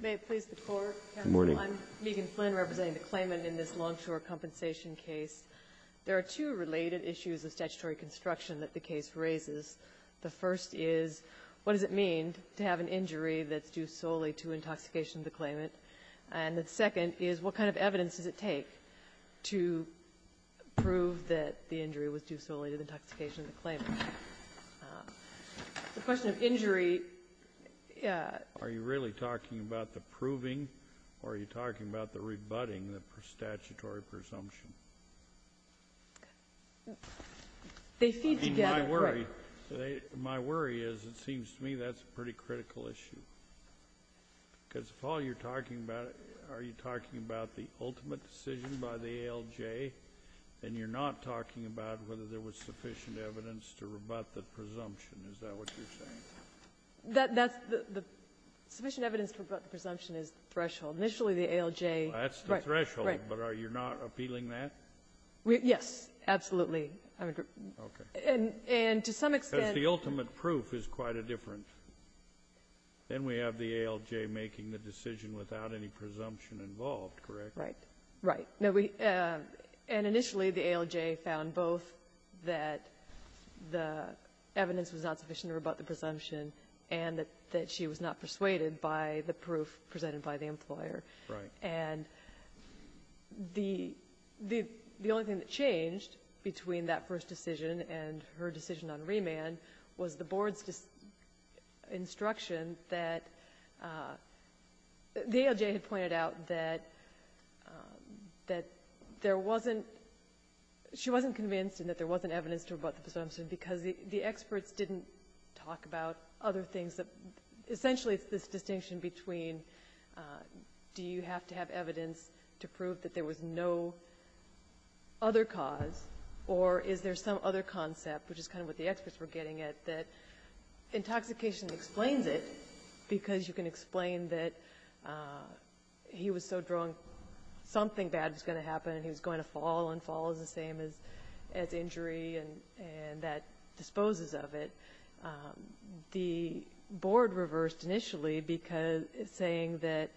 May it please the Court, I'm Megan Flynn representing the claimant in this Longshore compensation case. There are two related issues of statutory construction that the case raises. The first is, what does it mean to have an injury that's due solely to intoxication of the claimant? And the second is, what kind of evidence does it take to prove that the injury was due solely to the intoxication of the claimant? The question of injury, are you really talking about the proving, or are you talking about the rebutting, the statutory presumption? They feed together. My worry is, it seems to me, that's a pretty critical issue. Because if all you're talking about, are you talking about the ultimate decision by the ALJ, and you're not talking about whether there was sufficient evidence to rebut the presumption? Is that what you're saying? That's the the sufficient evidence to rebut the presumption is the threshold. Initially, the ALJ Right. That's the threshold. Right. But are you not appealing that? Yes, absolutely. Okay. And to some extent the ultimate proof is quite a different. Then we have the ALJ making the decision without any presumption involved, correct? Right. Right. And initially, the ALJ found both that the evidence was not sufficient to rebut the presumption and that she was not persuaded by the proof presented by the employer. Right. And the only thing that changed between that first decision and her decision on remand was the board's instruction that the ALJ had pointed out that there wasn't she wasn't convinced and that there wasn't evidence to rebut the presumption because the experts didn't talk about other things. Essentially, it's this distinction between do you have to have evidence to prove that there was no other cause, or is there some other concept, which is kind of what the experts were getting at, that intoxication explains it because you can explain that he was so drunk, something bad was going to happen, and he was going to fall, and fall is the same as injury, and that disposes of it. The board reversed initially because saying that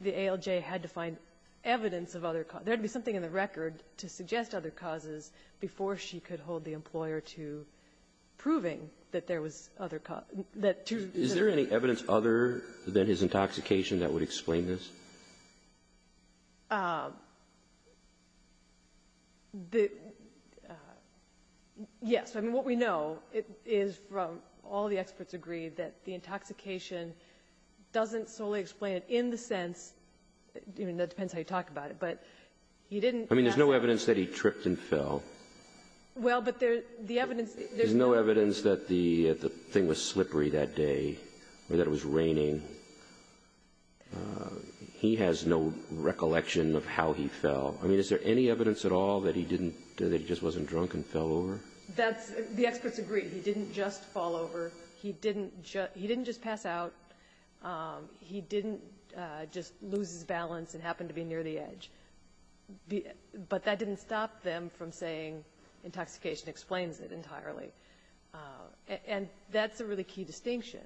the ALJ had to find evidence of other causes. There had to be something in the record to suggest other causes before she could hold the employer to proving that there was other cause. Is there any evidence other than his intoxication that would explain this? The yes. I mean, what we know is from all the experts agreed that the intoxication doesn't solely explain it in the sense, I mean, that depends how you talk about it, but he didn't pass out. I mean, there's no evidence that he tripped and fell. Well, but there's the evidence. There's no evidence that the thing was slippery that day or that it was raining. He has no recollection of how he fell. I mean, is there any evidence at all that he didn't do, that he just wasn't drunk and fell over? That's the experts agreed. He didn't just fall over. He didn't just pass out. He didn't just lose his balance and happen to be near the edge. But that didn't stop them from saying intoxication explains it entirely. And that's a really key distinction,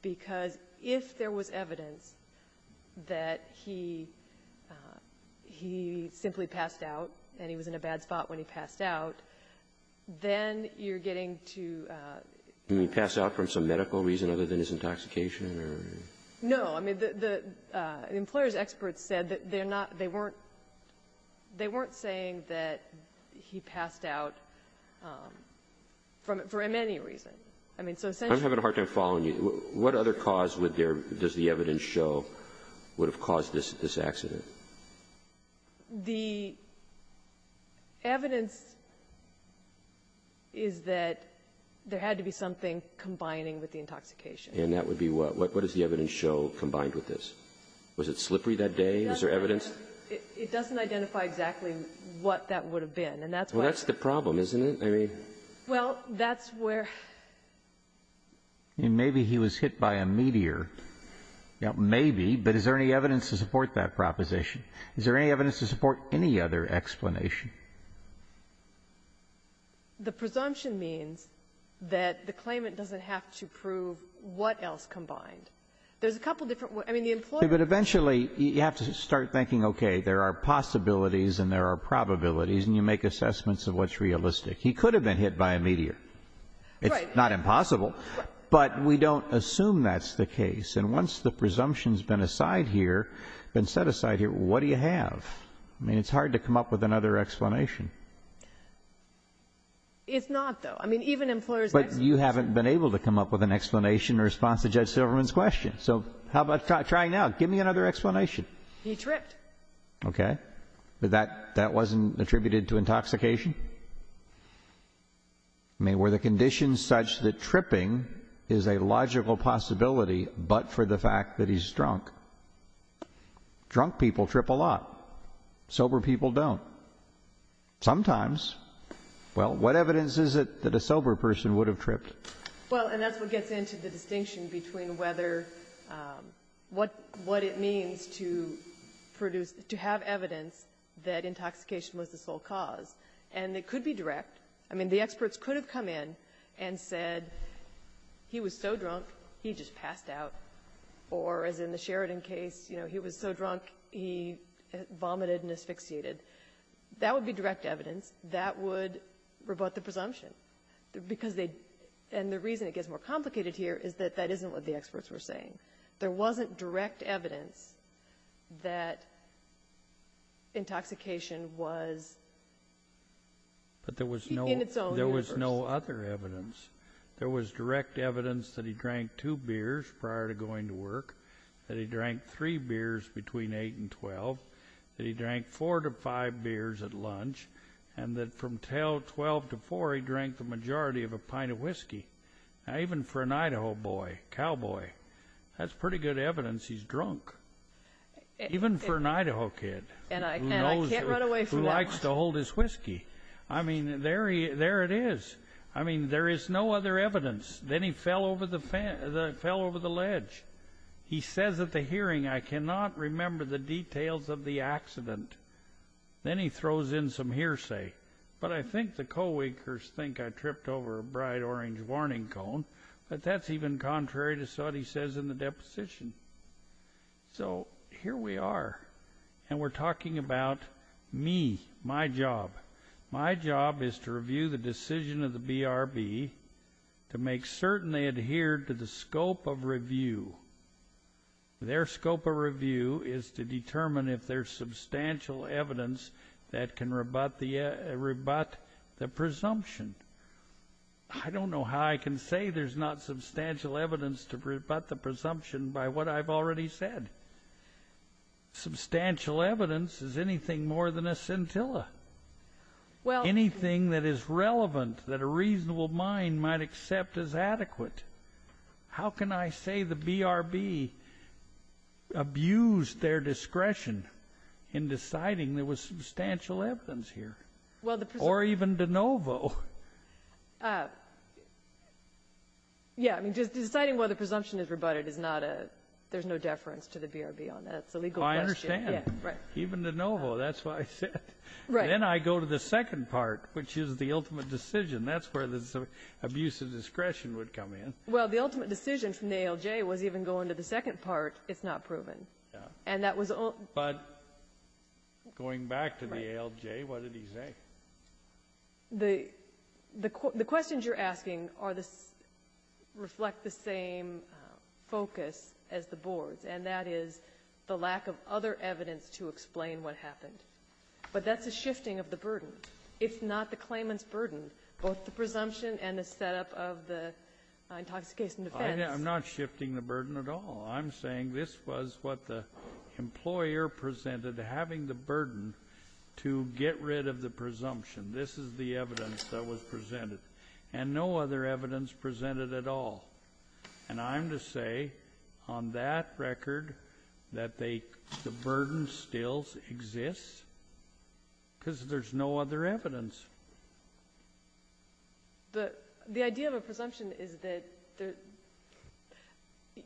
because if there was evidence that he simply passed out and he was in a bad spot when he passed out, then you're getting to the point where you're saying he didn't pass out for some medical reason other than his intoxication or no. I mean, the employer's experts said that they're not they weren't they weren't saying that he passed out from it for any reason. I mean, so essentially the reason I'm having a hard time following you, what other cause would there does the evidence show would have caused this accident? The evidence is that there had to be something combining with the intoxication. And that would be what what does the evidence show combined with this? Was it slippery that day? Is there evidence? It doesn't identify exactly what that would have been. And that's why that's the problem, isn't it? I mean, well, that's where maybe he was hit by a meteor. Now, maybe, but is there any evidence to support that proposition? Is there any evidence to support any other explanation? The presumption means that the claimant doesn't have to prove what else combined. There's a couple of different I mean, the employer. But eventually you have to start thinking, okay, there are possibilities and there are probabilities, and you make assessments of what's realistic. He could have been hit by a meteor. Right. Not impossible, but we don't assume that's the case. And once the presumption has been aside here, been set aside here, what do you have? I mean, it's hard to come up with another explanation. It's not, though. I mean, even employers. But you haven't been able to come up with an explanation in response to Judge Silverman's question. So how about try now? Give me another explanation. He tripped. Okay. But that that wasn't attributed to intoxication? I mean, were the conditions such that tripping is a logical possibility but for the fact that he's drunk? Drunk people trip a lot. Sober people don't. Sometimes. Well, what evidence is it that a sober person would have tripped? Well, and that's what gets into the distinction between whether what it means to produce to have evidence that intoxication was the sole cause. And it could be direct. I mean, the experts could have come in and said he was so drunk, he just passed out. Or as in the Sheridan case, you know, he was so drunk, he vomited and asphyxiated. That would be direct evidence. That would rebut the presumption. Because they – and the reason it gets more complicated here is that that isn't what the experts were saying. There wasn't direct evidence that intoxication was in its own universe. There was no other evidence. There was direct evidence that he drank two beers prior to going to work, that he drank three beers between eight and twelve, that he drank four to five beers at lunch, and that from twelve to four, he drank the majority of a pint of whiskey. Now, even for an Idaho boy, cowboy, that's pretty good evidence he's drunk. Even for an Idaho kid who likes to hold his whiskey. I mean, there it is. I mean, there is no other evidence. Then he fell over the ledge. He says at the hearing, I cannot remember the details of the accident. Then he throws in some hearsay. But I think the co-workers think I tripped over a bright orange warning cone, but that's even contrary to what he says in the deposition. So here we are, and we're talking about me, my job. My job is to review the decision of the BRB to make certain they adhere to the scope of review. Their scope of review is to determine if there's substantial evidence that can rebut the presumption. I don't know how I can say there's not substantial evidence to rebut the presumption by what I've already said. Substantial evidence is anything more than a scintilla. Anything that is relevant, that a reasonable mind might accept as adequate. How can I say the BRB abused their discretion in deciding there was substantial evidence here? Or even de novo? Yeah. I mean, just deciding whether the presumption is rebutted is not a, there's no deference to the BRB on that. It's a legal question. I understand. Even de novo. That's what I said. Then I go to the second part, which is the ultimate decision. That's where the abuse of discretion would come in. Well, the ultimate decision from the ALJ was even going to the second part. It's not proven. Yeah. And that was the only one. But going back to the ALJ, what did he say? The questions you're asking are the, reflect the same focus as the board's, and that is the lack of other evidence to explain what happened. But that's a shifting of the burden. It's not the claimant's burden, both the presumption and the setup of the intoxication defense. I'm not shifting the burden at all. I'm saying this was what the employer presented, having the burden to get rid of the presumption. This is the evidence that was presented. And no other evidence presented at all. And I'm to say on that record that they, the burden still exists because there's no other evidence. The idea of a presumption is that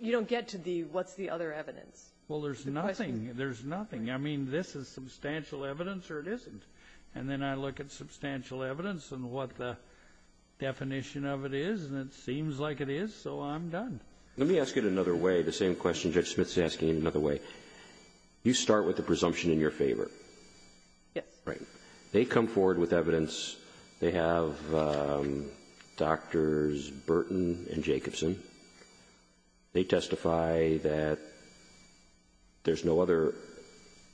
you don't get to the what's the other evidence. Well, there's nothing. There's nothing. I mean, this is substantial evidence or it isn't. And then I look at substantial evidence and what the definition of it is, and it seems like it is, so I'm done. Let me ask it another way, the same question Judge Smith's asking another way. You start with the presumption in your favor. Yes. Right. They come forward with evidence. They have Doctors Burton and Jacobson. They testify that there's no other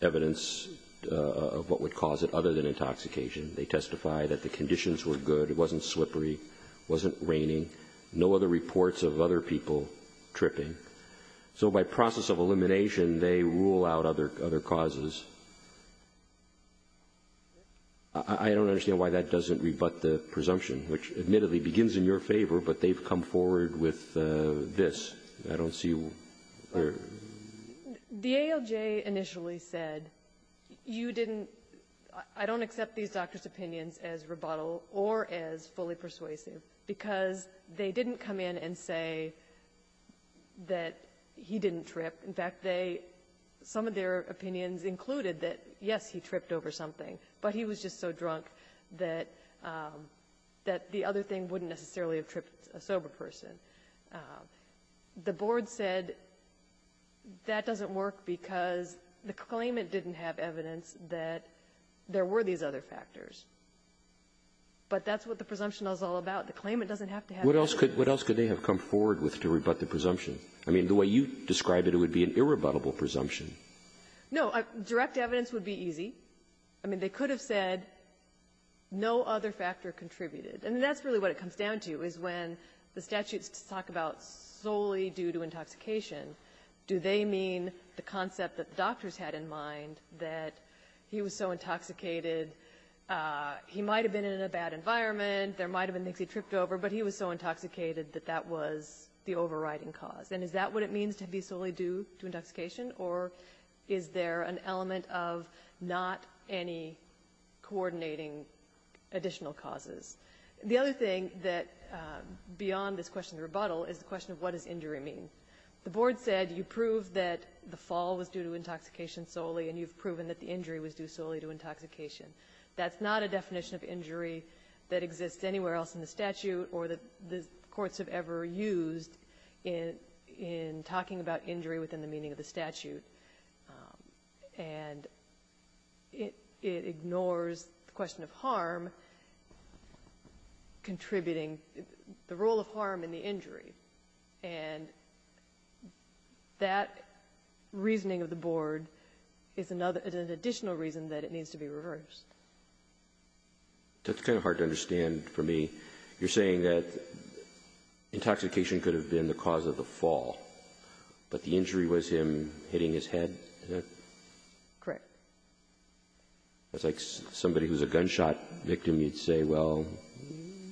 evidence of what would cause it other than intoxication. They testify that the conditions were good. It wasn't slippery. It wasn't raining. No other reports of other people tripping. So by process of elimination, they rule out other causes. I don't understand why that doesn't rebut the presumption, which admittedly begins in your favor, but they've come forward with this. I don't see where the ALJ initially said, you didn't – I don't accept these doctors' opinions as rebuttal or as fully persuasive because they didn't come in and say that he didn't trip. In fact, they – some of their opinions included that, yes, he tripped over something, but he was just so drunk that the other thing wouldn't necessarily have tripped a sober person. The Board said that doesn't work because the claimant didn't have evidence that there were these other factors, but that's what the presumption is all about. The claimant doesn't have to have evidence. What else could they have come forward with to rebut the presumption? I mean, the way you describe it, it would be an irrebuttable presumption. No. Direct evidence would be easy. I mean, they could have said no other factor contributed. And that's really what it comes down to, is when the statutes talk about solely due to intoxication, do they mean the concept that the doctors had in mind that he was so intoxicated, he might have been in a bad environment, there might have been a reason why he was so intoxicated, that that was the overriding cause? And is that what it means to be solely due to intoxication, or is there an element of not any coordinating additional causes? The other thing that – beyond this question of rebuttal is the question of what does injury mean. The Board said you proved that the fall was due to intoxication solely, and you've proven that the injury was due solely to intoxication. That's not a definition of injury that exists anywhere else in the statute or that the courts have ever used in talking about injury within the meaning of the statute. And it ignores the question of harm contributing, the role of harm in the injury. And that reasoning of the Board is another – is an additional reason that it needs to be reversed. That's kind of hard to understand for me. You're saying that intoxication could have been the cause of the fall, but the injury was him hitting his head? Correct. It's like somebody who's a gunshot victim, you'd say, well,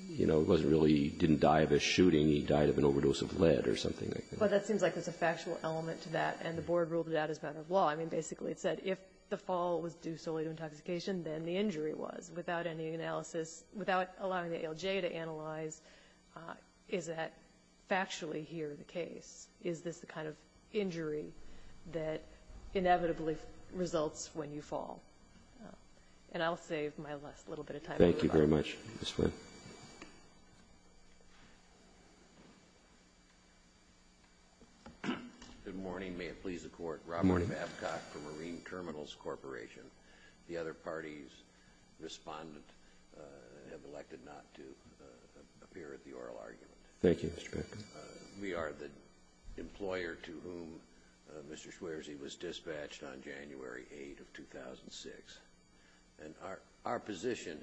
you know, it wasn't really – he didn't die of a shooting, he died of an overdose of lead or something like that. But that seems like there's a factual element to that, and the Board ruled it out as a matter of law. I mean, basically, it said if the fall was due solely to intoxication, then the injury was, without any analysis, without allowing the ALJ to analyze, is that factually here the case? Is this the kind of injury that inevitably results when you fall? And I'll save my last little bit of time. Thank you very much, Ms. Flynn. Good morning. May it please the Court. Robert Babcock for Marine Terminals Corporation. The other parties' respondent have elected not to appear at the oral argument. Thank you, Mr. Babcock. We are the employer to whom Mr. Schwererzy was dispatched on January 8th of 2006. And our position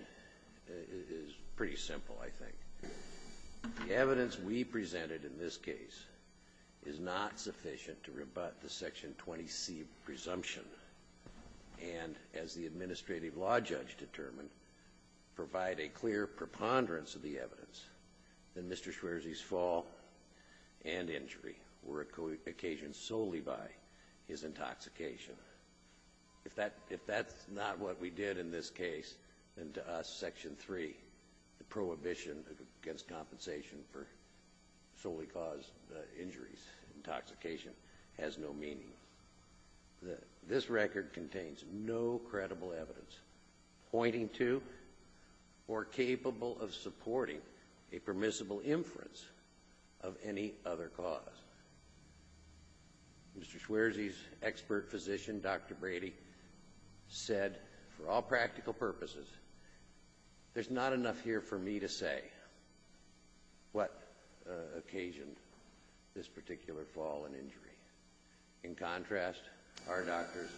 is pretty simple, I think. The evidence we presented in this case is not sufficient to rebut the Section 20C presumption and, as the administrative law judge determined, provide a clear preponderance of the evidence that Mr. Schwererzy's fall and injury were occasioned solely by his intoxication. If that's not what we did in this case, then to us, Section 3, the prohibition against compensation for solely caused injuries, intoxication, has no meaning. This record contains no credible evidence pointing to or capable of supporting a permissible inference of any other cause. Mr. Schwererzy's expert physician, Dr. Brady, said, for all practical purposes, there's not enough here for me to say what occasioned this particular fall and injury. In contrast, our doctors,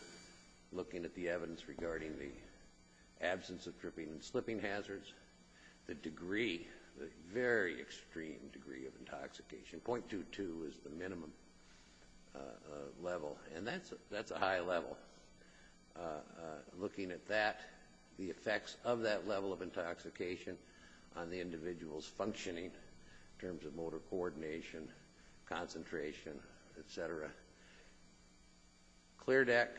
looking at the evidence regarding the absence of dripping and slipping hazards, the degree, the very extreme degree of intoxication, 0.22 is the minimum level, and that's a high level. Looking at that, the effects of that level of intoxication on the individual's functioning in terms of motor coordination, concentration, et cetera. Clear Deck,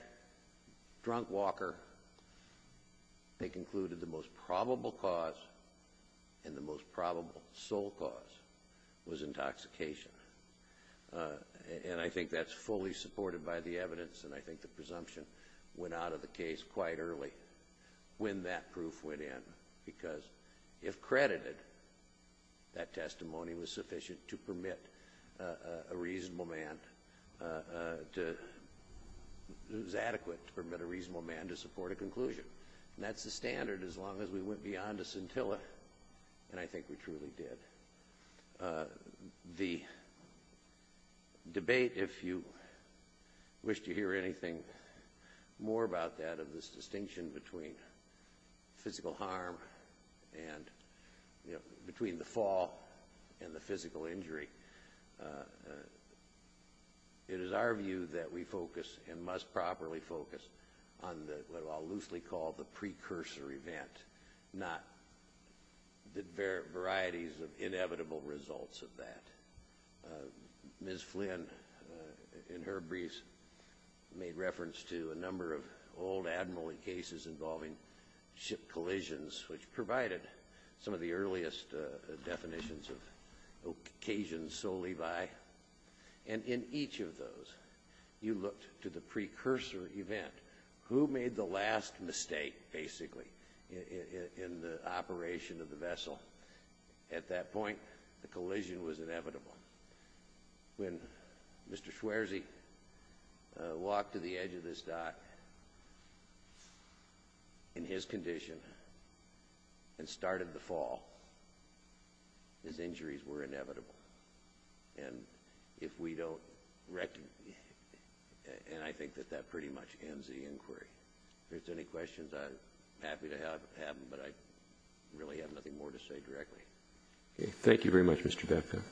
Drunk Walker, they concluded the most probable cause, and the most probable sole cause, was intoxication. And I think that's fully supported by the evidence, and I think the presumption went out of the case quite early when that proof went in, because if credited, that testimony was sufficient to permit a reasonable man to – it was adequate to permit a reasonable man to support a conclusion. And that's the standard as long as we went beyond a scintilla, and I think we truly did. The debate, if you wish to hear anything more about that, of this distinction between physical harm and – between the fall and the physical injury, it is our view that we focus and must properly focus on what I'll loosely call the precursor event, not the varieties of inevitable results of that. Ms. Flynn, in her briefs, made reference to a number of old Admiralty cases involving ship collisions, which provided some of the earliest definitions of occasions solely by. And in each of those, you looked to the precursor event. Who made the last mistake, basically, in the operation of the vessel? Well, at that point, the collision was inevitable. When Mr. Schwarzy walked to the edge of this dock in his condition and started the fall, his injuries were inevitable. And if we don't – and I think that that pretty much ends the inquiry. If there's any questions, I'm happy to have them, but I really have nothing more to say directly. Okay. Thank you very much, Mr. Becker.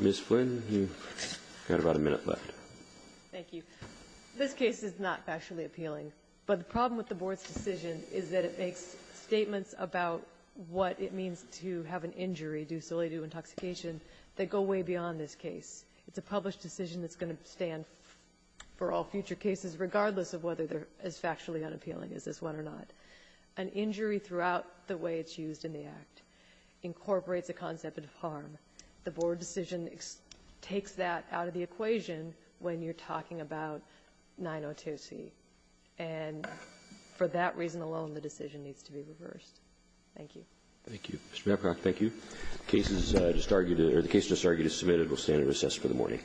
Ms. Flynn, you've got about a minute left. Thank you. This case is not actually appealing, but the problem with the Board's decision is that it makes statements about what it means to have an injury due solely to intoxication that go way beyond this case. It's a published decision that's going to stand for all future cases, regardless of whether they're as factually unappealing as this one or not. An injury throughout the way it's used in the Act incorporates a concept of harm. The Board decision takes that out of the equation when you're talking about 902C. And for that reason alone, the decision needs to be reversed. Thank you. Thank you. Mr. Mapcock, thank you. The case just argued or the case just argued is submitted. We'll stand at recess for the morning.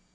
Thank you.